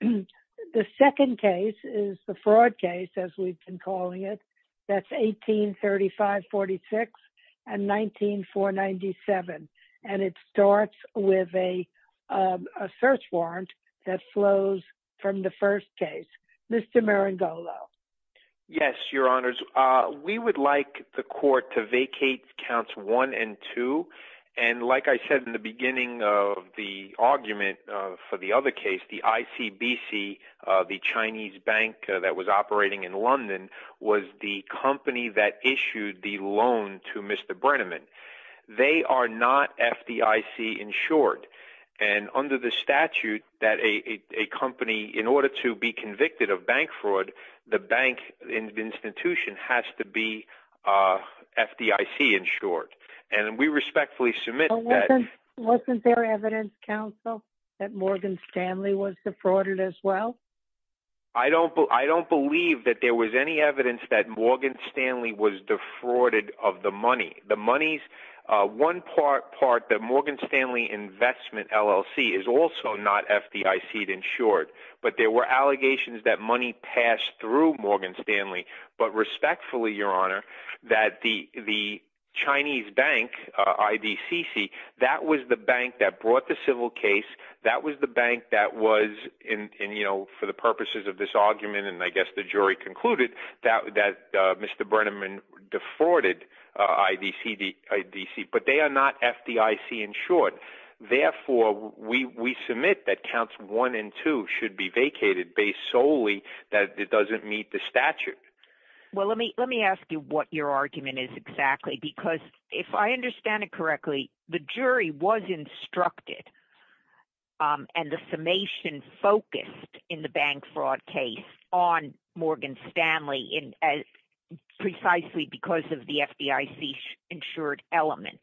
The second case is the fraud case, as we've been calling it. That's 1835-46 and 19497. And it starts with a search warrant that flows from the first case. Mr. Marangolo. Yes, your honors. We would like the court to vacate counts one and two. And like I said in the beginning of the argument for the other case, the ICBC, the Chinese bank that was operating in London, was the company that issued the loan to Mr. Brennerman. They are not FDIC insured. And under the statute that a company, in order to be convicted of bank Wasn't there evidence, counsel, that Morgan Stanley was defrauded as well? I don't, I don't believe that there was any evidence that Morgan Stanley was defrauded of the money. The money's one part part that Morgan Stanley investment LLC is also not FDIC insured. But there were allegations that money passed through Morgan Stanley. But respectfully, your honor, that the the Chinese bank IDCC, that was the bank that brought the civil case. That was the bank that was in, you know, for the purposes of this argument, and I guess the jury concluded that that Mr. Brennerman defrauded IDCD IDC, but they are not FDIC insured. Therefore, we submit that counts one and two should be vacated based solely that it doesn't meet the Well, let me let me ask you what your argument is exactly. Because if I understand it correctly, the jury was instructed and the summation focused in the bank fraud case on Morgan Stanley in as precisely because of the FDIC insured element.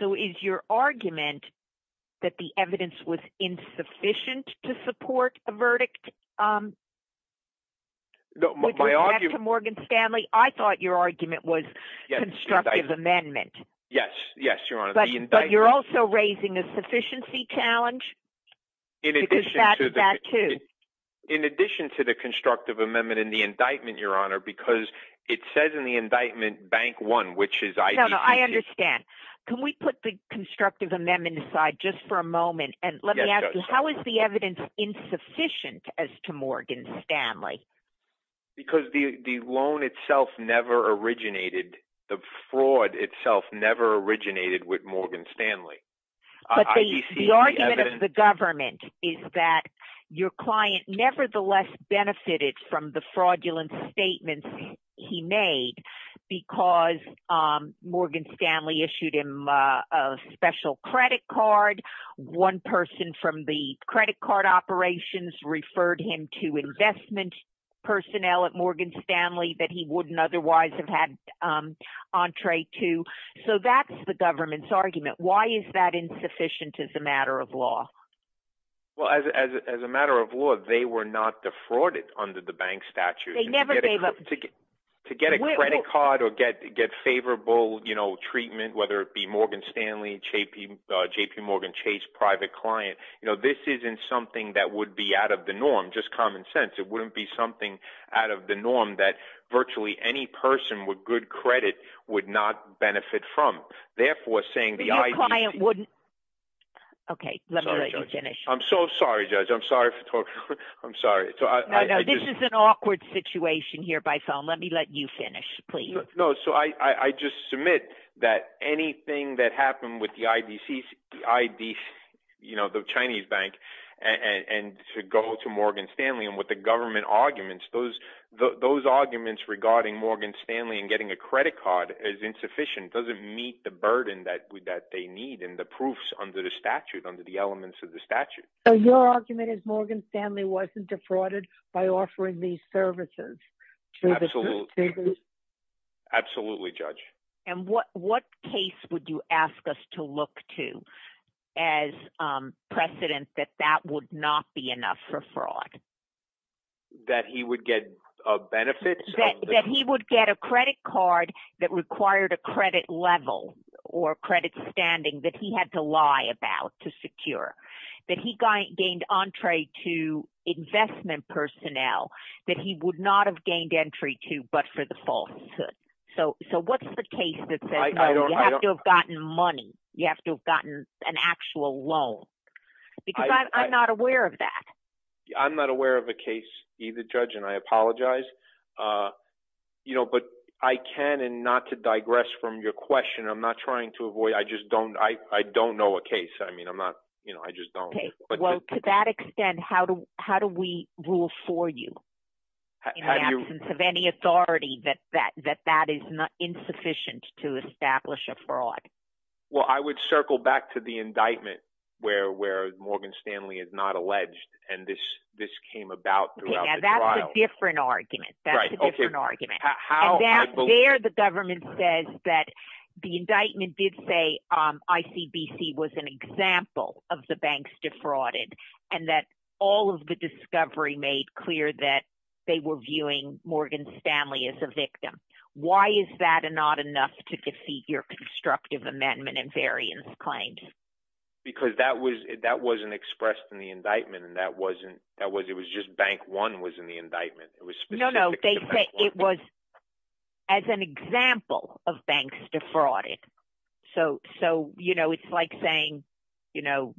So is your argument that the evidence was insufficient to support a verdict? Morgan Stanley, I thought your argument was constructive amendment. Yes, yes, your honor. But you're also raising a sufficiency challenge. In addition to the constructive amendment in the indictment, your honor, because it says in the indictment bank one, which is I understand, can we put the constructive amendment aside just for a moment? And let me ask you, how is the evidence insufficient as to Morgan Stanley? Because the loan itself never originated. The fraud itself never originated with Morgan Stanley. But the argument of the government is that your client nevertheless benefited from the fraudulent statements he made, because Morgan Stanley issued him a special credit card. One person from the credit card operations referred him to investment personnel at Morgan Stanley that he wouldn't otherwise have had entree to. So that's the government's argument. Why is that insufficient as a matter of law? Well, as a matter of law, they were not defrauded under the bank statute. They never gave up to get a credit card or get favorable treatment, whether it be Morgan Stanley, JP Morgan Chase, private client. This isn't something that would be out of the norm, just common sense. It wouldn't be something out of the norm that virtually any person with good credit would not benefit from. Therefore, saying the client wouldn't. OK, let me finish. I'm so sorry, Judge. I'm sorry. I'm sorry. So this is an awkward situation here by phone. Let me let you finish, please. No. So I just submit that anything that happened with the IDC, you know, the Chinese bank and to go to Morgan Stanley and what the government arguments, those those arguments regarding Morgan Stanley and getting a credit card is insufficient, doesn't meet the burden that that they need and the proofs under the statute, under the elements of the statute. So your argument is Morgan Stanley wasn't defrauded by offering these services? Absolutely. Absolutely, Judge. And what what case would you ask us to look to as precedent that that would not be enough for fraud? That he would get a benefit that he would get a credit card that required a credit level or credit standing that he had to lie about to secure that he gained entree to investment personnel that he would not have gained entry to, but for the falsehood. So so what's the case that you have to have gotten money? You have to have gotten an actual loan because I'm not aware of that. I'm not aware of a case either, Judge, and I apologize, uh, you know, but I can and not to digress from your question. I'm not trying to avoid. I just don't. I don't know a case. I mean, I'm not, you know, I just don't. Well, to that extent, how do how do we rule for you in the absence of any authority that that that that is not insufficient to establish a fraud? Well, I would circle back to the indictment where where Morgan Stanley is and this this came about throughout the trial. That's a different argument. That's a different argument. How dare the government says that the indictment did say I.C.B.C. was an example of the banks defrauded and that all of the discovery made clear that they were viewing Morgan Stanley as a victim. Why is that not enough to defeat your constructive amendment and variance claims? Because that was that wasn't expressed in the indictment and that wasn't that was it was just bank one was in the indictment. It was no, no. They say it was as an example of banks defrauded. So so, you know, it's like saying, you know,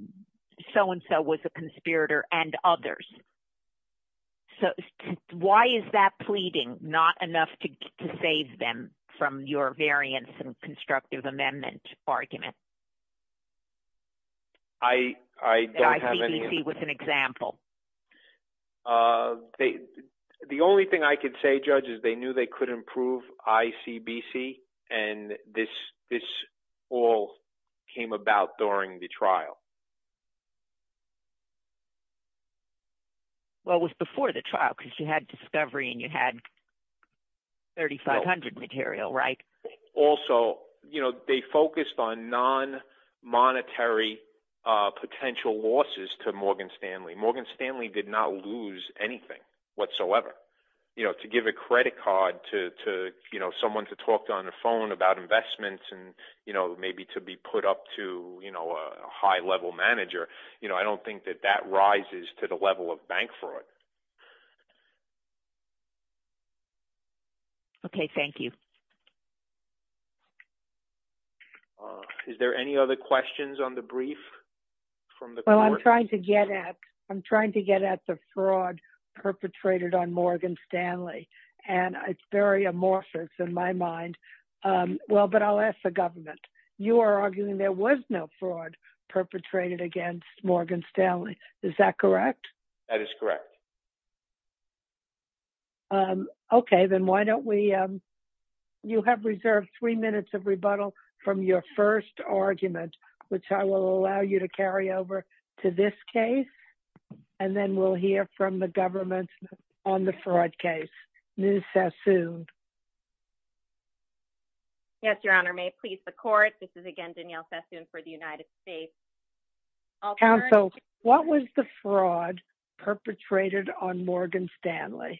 so and so was a conspirator and others. So why is that pleading not enough to save them from your variance and constructive amendment argument? I, I don't have any. I.C.B.C. was an example. The only thing I could say, Judge, is they knew they could improve I.C.B.C. and this this all came about during the trial. Well, it was before the trial because you had discovery and you had thirty five hundred material. Right. Also, you know, they focused on non monetary potential losses to Morgan Stanley. Morgan Stanley did not lose anything whatsoever, you know, to give a credit card to, you know, someone to talk on the phone about investments and, you know, maybe to be put up to, you know, a high level manager. You know, I don't think that that rises to the level of bank fraud. OK, thank you. Is there any other questions on the brief from the court? Well, I'm trying to get at I'm trying to get at the fraud perpetrated on Morgan Stanley, and it's very amorphous in my mind. Well, but I'll ask the government. You are arguing there was no fraud perpetrated against Morgan Stanley. Is that correct? That is correct. OK, then why don't we you have reserved three minutes of rebuttal from your first argument, which I will allow you to carry over to this case, and then we'll hear from the government on the fraud case. Yes, Your Honor, may please the court. This is again Danielle Sassoon for the United States. Also, what was the fraud perpetrated on Morgan Stanley?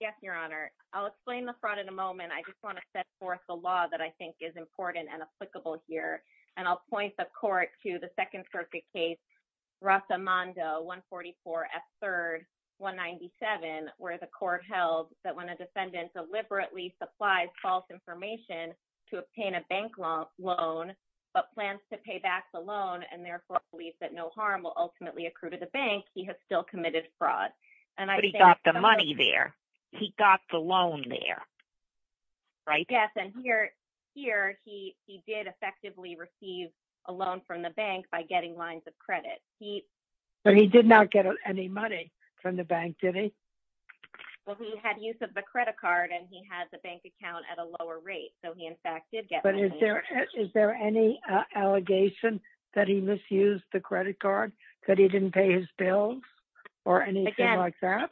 Yes, Your Honor. I'll explain the fraud in a moment. I just want to set forth the law that I think is important and applicable here, and I'll point the court to the Second Circuit case Rathamando 144 F. Third 197, where the court held that when a defendant deliberately supplies false information to obtain a bank loan, but plans to pay back the loan and therefore believes that no harm will ultimately accrue to the bank, he has still committed fraud. And he got the money there. He got the loan there. Right. Yes. And here here he he did effectively receive a loan from the bank by getting lines of credit. But he did not get any money from the bank, did he? Well, he had use of the credit card and he had the bank account at a lower rate. So he, in fact, did get. But is there is there any allegation that he misused the credit card that he didn't pay his bills or anything like that?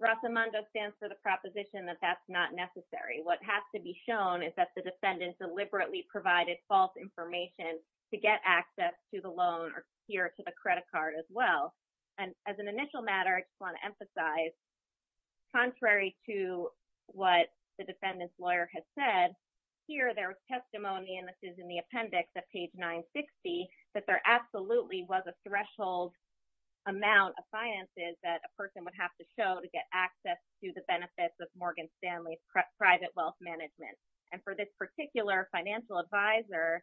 Rathamando stands for the proposition that that's not necessary. What has to be shown is that the defendant deliberately provided false information to get access to the loan here to the credit card as well. And as an initial matter, I want to emphasize. Contrary to what the defendant's lawyer has said here, there was testimony in the appendix at page 960 that there absolutely was a threshold amount of finances that a person would have to show to get access to the benefits of Morgan Stanley's private wealth management. And for particular financial advisor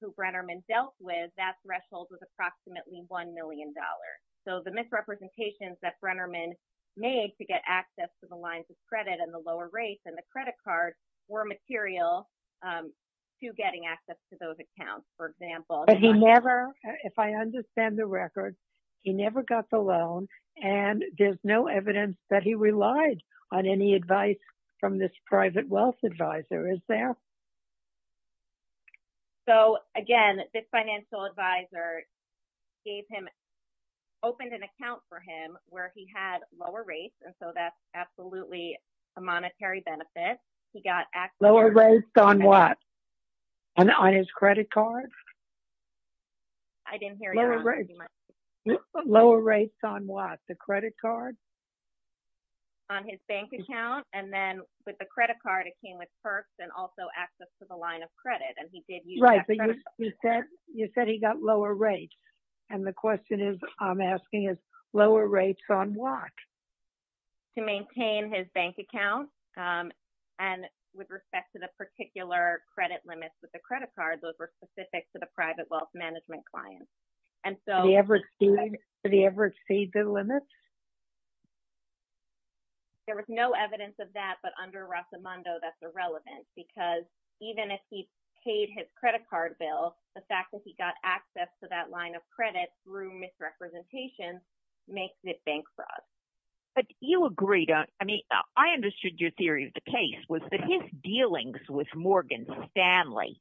who Brennerman dealt with, that threshold was approximately one million dollars. So the misrepresentations that Brennerman made to get access to the lines of credit and the lower rates and the credit card were material to getting access to those accounts, for example. But he never if I understand the record, he never got the loan and there's no evidence that he relied on any advice from this private wealth advisor. Is there? So, again, this financial advisor gave him opened an account for him where he had lower rates. And so that's absolutely a monetary benefit. He got lower rates on what? On his credit card? I didn't hear you. Lower rates on what? The credit card? On his bank account. And then with the credit card, it came with perks and also access to the line of credit. And he did use that credit card. Right, but you said he got lower rates. And the question is, I'm asking is lower rates on what? To maintain his bank account. And with respect to the particular credit limits with the credit card, those were specific to the private wealth management clients. And so- Did he ever exceed the limits? There was no evidence of that. But under Rasmundo, that's irrelevant because even if he paid his credit card bill, the fact that he got access to that line of credit through misrepresentation makes it bank fraud. But you agree, don't you? I mean, I understood your theory of the case was that his dealings with Morgan Stanley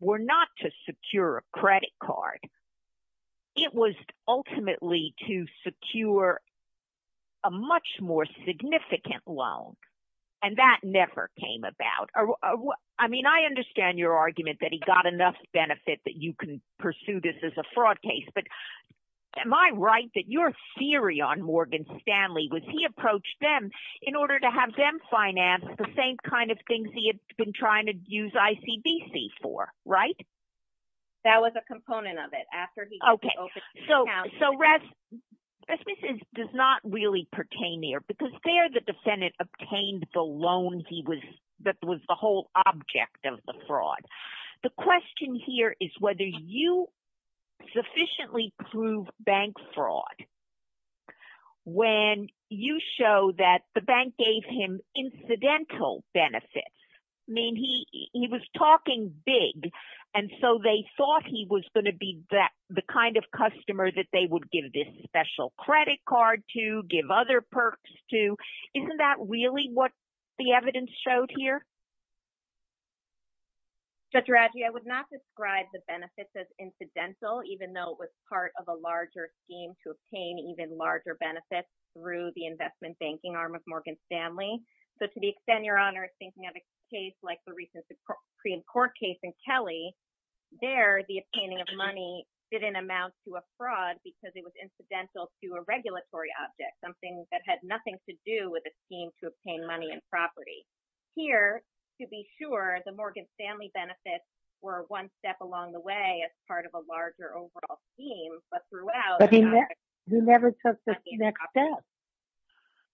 were not to secure a credit card. It was ultimately to secure a much more significant loan. And that never came about. I mean, I understand your argument that he got enough benefit that you can pursue this as a fraud case. But am I right that your theory on Morgan Stanley was he approached them in order to have them finance the same things he had been trying to use ICBC for, right? That was a component of it after he- Okay. So Rasmus does not really pertain there because there the defendant obtained the loans that was the whole object of the fraud. The question here is whether you sufficiently prove bank fraud when you show that the bank gave him incidental benefits. I mean, he was talking big. And so they thought he was going to be the kind of customer that they would give this special credit card to, give other perks to. Isn't that really what the evidence showed here? Judge Radji, I would not describe the benefits as incidental, even though it was part of a larger scheme to obtain even larger benefits through the investment banking arm of Morgan Stanley. So to the extent, Your Honor, thinking of a case like the recent Supreme Court case in Kelly, there the obtaining of money didn't amount to a fraud because it was incidental to a regulatory object, something that had nothing to do with a scheme to obtain money and property. Here, to be sure, the Morgan Stanley benefits were one step along the way as part of a larger overall scheme, but throughout- But he never took the next step.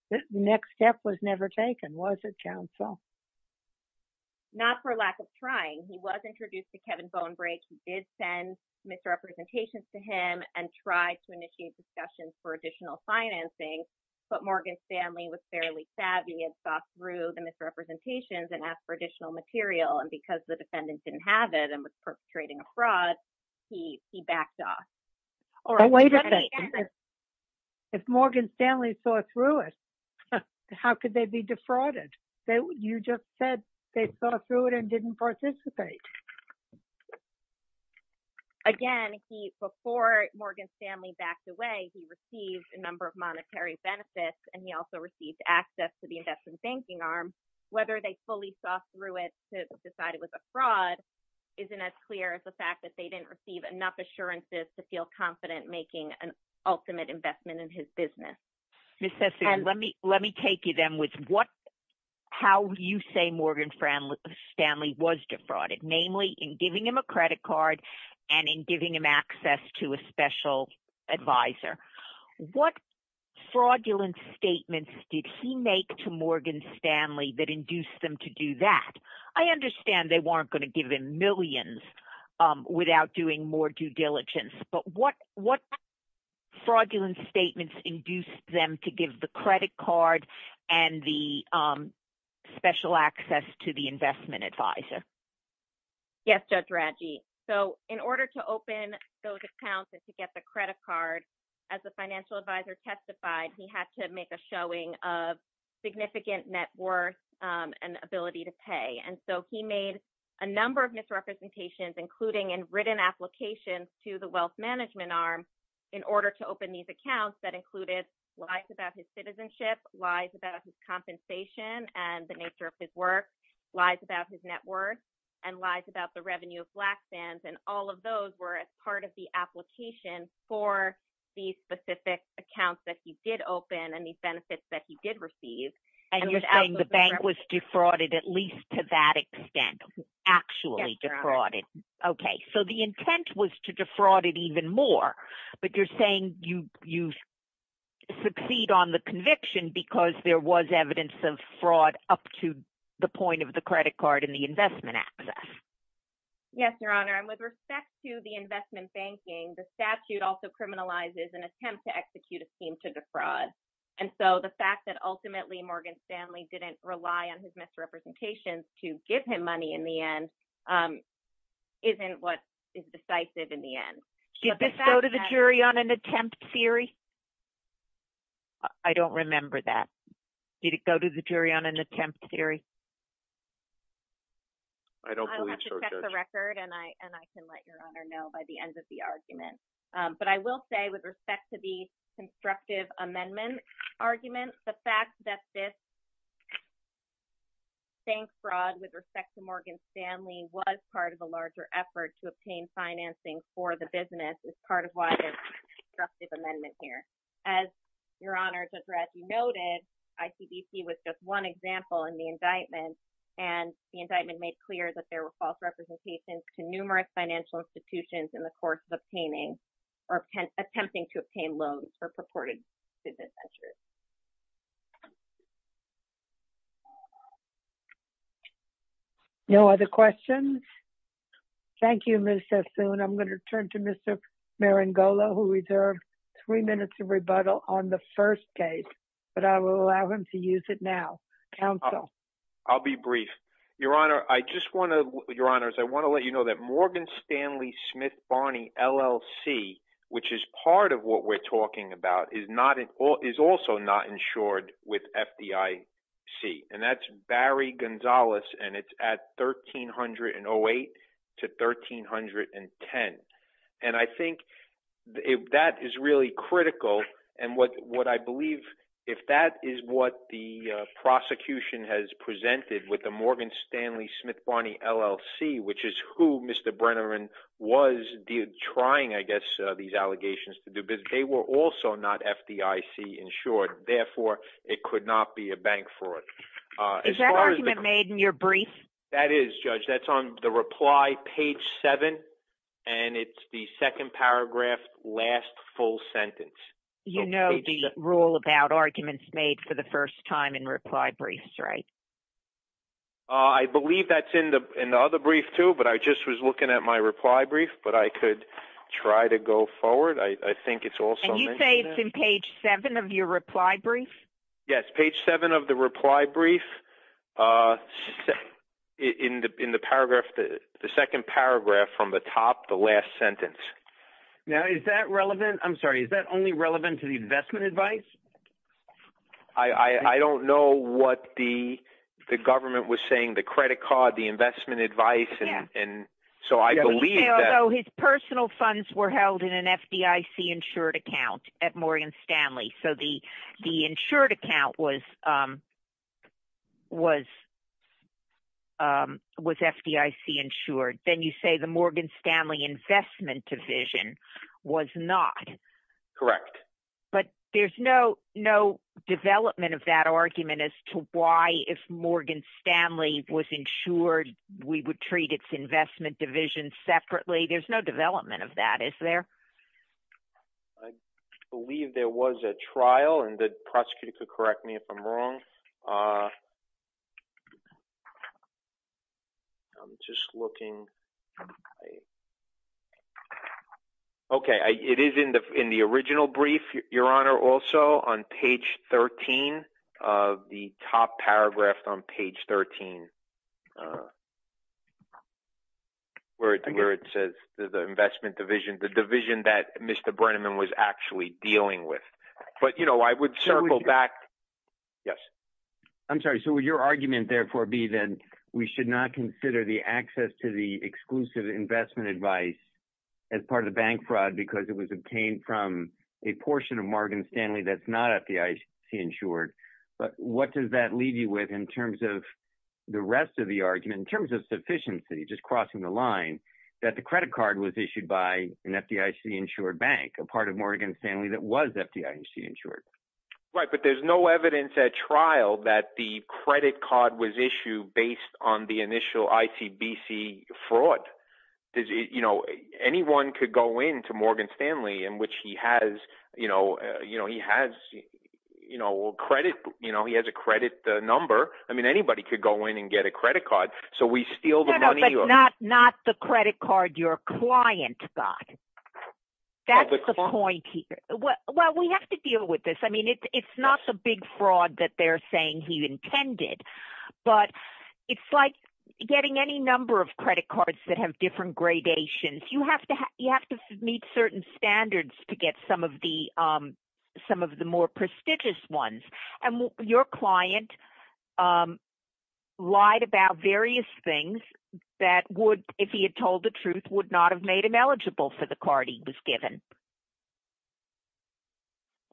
The next step was never taken, was it, counsel? Not for lack of trying. He was introduced to Kevin Bonebrake. He did send misrepresentations to him and tried to initiate discussions for misrepresentations and ask for additional material, and because the defendant didn't have it and was perpetrating a fraud, he backed off. Or- But wait a minute. If Morgan Stanley saw through it, how could they be defrauded? You just said they saw through it and didn't participate. Again, before Morgan Stanley backed away, he received a number of monetary benefits, and he also received access to the investment banking arm. Whether they fully saw through it to decide it was a fraud isn't as clear as the fact that they didn't receive enough assurances to feel confident making an ultimate investment in his business. Ms. Sesay, let me take you then with what- how you say Morgan Stanley was defrauded, namely in giving him a credit card and in giving him access to a special advisor. What fraudulent statements did he make to Morgan Stanley that induced them to do that? I understand they weren't going to give him millions without doing more due diligence, but what fraudulent statements induced them to give the credit card and the special access to the investment advisor? Yes, Judge Radji. So, in order to open those accounts and to get the credit card, as the financial advisor testified, he had to make a showing of significant net worth and ability to pay. And so, he made a number of misrepresentations, including in written applications to the wealth management arm in order to open these accounts that included lies about his citizenship, lies about his compensation and the nature of his work, lies about his net worth, and lies about the revenue of black fans. And all of those were as part of the application for these specific accounts that he did open and these benefits that he did receive. And you're saying the bank was defrauded at least to that extent, actually defrauded. Okay. So, the intent was to defraud it even more, but you're saying you succeed on the conviction because there was evidence of fraud up to the point of the credit card and the investment access. Yes, Your Honor. And with respect to the investment banking, the statute also criminalizes an attempt to execute a scheme to defraud. And so, the fact that ultimately Morgan Stanley didn't rely on his misrepresentations to give him money in the end isn't what is decisive in the end. Did this go to the jury on an attempt theory? I don't remember that. Did it go to the jury on an attempt theory? I don't believe so, Judge. I'll have to check the record and I can let Your Honor know by the end of the argument. But I will say with respect to the constructive amendment argument, the fact that this bank fraud with respect to Morgan Stanley was part of a larger effort to obtain financing for the business is part of why there's a constructive amendment here. As Your Honor's address noted, ICBC was just one example in the indictment, and the indictment made clear that there were false representations to numerous financial institutions in the course of obtaining or attempting to obtain loans for purported business ventures. No other questions? Thank you, Ms. Sassoon. I'm going to turn to Mr. Marangolo, who reserved three minutes of rebuttal on the first case, but I will allow him to use it now. I'll be brief. Your Honor, I just want to let you know that Morgan Stanley Smith Barney LLC, which is part of what we're talking about, is also not insured with FDIC, and that's Barry is really critical. And what I believe, if that is what the prosecution has presented with the Morgan Stanley Smith Barney LLC, which is who Mr. Brenner was trying, I guess, these allegations to do, because they were also not FDIC insured. Therefore, it could not be a bank fraud. Is that argument made in your brief? That is, Judge. That's on the reply page seven, and it's the second paragraph, last full sentence. You know the rule about arguments made for the first time in reply briefs, right? I believe that's in the other brief too, but I just was looking at my reply brief, but I could try to go forward. I think it's also- And you say it's in page seven of your reply brief? Yes, page seven of the reply brief. In the paragraph, the second paragraph from the top, the last sentence. Now, is that relevant? I'm sorry, is that only relevant to the investment advice? I don't know what the government was saying, the credit card, the investment advice, and so I believe that- Although his personal funds were held in an FDIC insured account at Morgan Stanley, so the insured account was FDIC insured. Then you say the Morgan Stanley investment division was not. Correct. But there's no development of that argument as to why, if Morgan Stanley was insured, we would treat its investment division separately. There's no development of that, is there? I believe there was a trial, and the prosecutor could correct me if I'm wrong. I'm just looking. Okay, it is in the original brief, Your Honor, also on page 13 of the top paragraph on page 13, where it says the investment division, the division that Mr. Brenneman was actually dealing with. But I would circle back. Yes. I'm sorry, so would your argument, therefore, be that we should not consider the access to the exclusive investment advice as part of the bank fraud because it was obtained from a portion of Morgan Stanley that's not FDIC insured? But what does that leave you with in terms of sufficiency, just crossing the line, that the credit card was issued by an FDIC insured bank, a part of Morgan Stanley that was FDIC insured? Right, but there's no evidence at trial that the credit card was issued based on the initial ICBC fraud. Anyone could go into Morgan Stanley, in which he has a credit number. I mean, so we steal the money? No, but not the credit card your client got. That's the point here. Well, we have to deal with this. I mean, it's not the big fraud that they're saying he intended. But it's like getting any number of credit cards that have different gradations. You have to meet certain standards to get some of the more prestigious ones. Your client lied about various things that would, if he had told the truth, would not have made him eligible for the card he was given.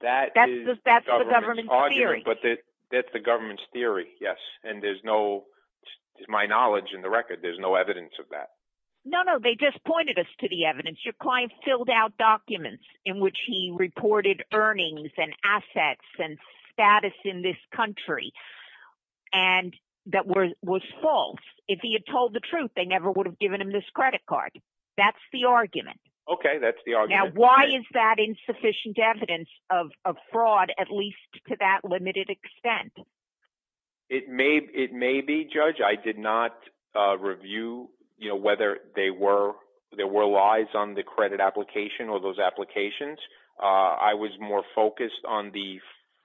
That's the government's theory. But that's the government's theory, yes. And there's no, my knowledge and the record, there's no evidence of that. No, no, they just pointed us to the evidence. Your client filled out documents in which he in this country, and that was false. If he had told the truth, they never would have given him this credit card. That's the argument. Okay, that's the argument. Now, why is that insufficient evidence of fraud, at least to that limited extent? It may be, Judge. I did not review whether there were lies on the credit application or those applications. I was more focused on the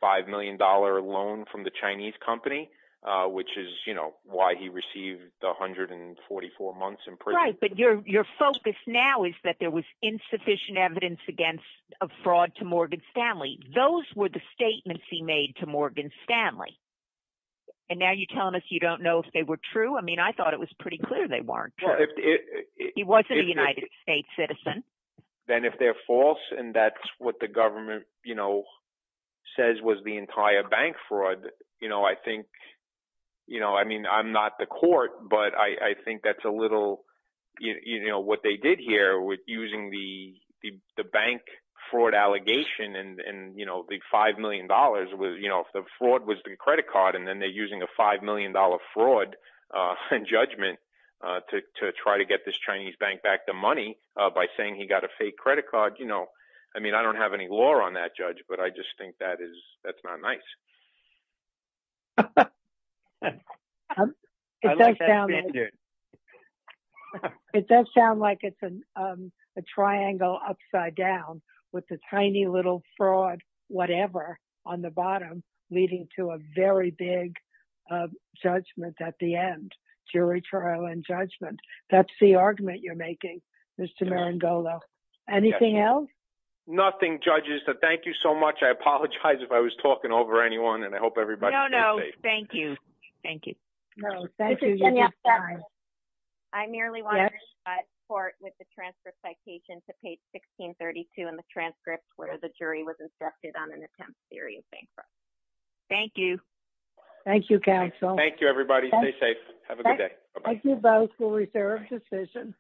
$5 million loan from the Chinese company, which is why he received 144 months in prison. But your focus now is that there was insufficient evidence against a fraud to Morgan Stanley. Those were the statements he made to Morgan Stanley. And now you're telling us you don't know if they were true. I mean, I thought it was pretty clear they weren't. He wasn't a United States citizen. Then if they're false, and that's what the government says was the entire bank fraud, I think, I mean, I'm not the court, but I think that's a little, what they did here with using the bank fraud allegation, and the $5 million was, if the fraud was the credit card, and then they're using a $5 million fraud and judgment to try to get this Chinese bank back the money by saying he got a fake credit card. I mean, I don't have any law on that, Judge, but I just think that's not nice. It does sound like it's a triangle upside down with a tiny little fraud, whatever, on the bottom, leading to a very big judgment at the end, jury trial and judgment. That's the argument you're making, Mr. Marangolo. Anything else? Nothing, Judge. Thank you so much. I apologize if I was talking over anyone, and I hope everybody. No, no, thank you. Thank you. I merely want to report with the transfer citation to page 1632 in the transcripts where the jury was inspected on an attempt at serious bank fraud. Thank you. Thank you, counsel. Thank you, everybody. Stay safe. Have a good day.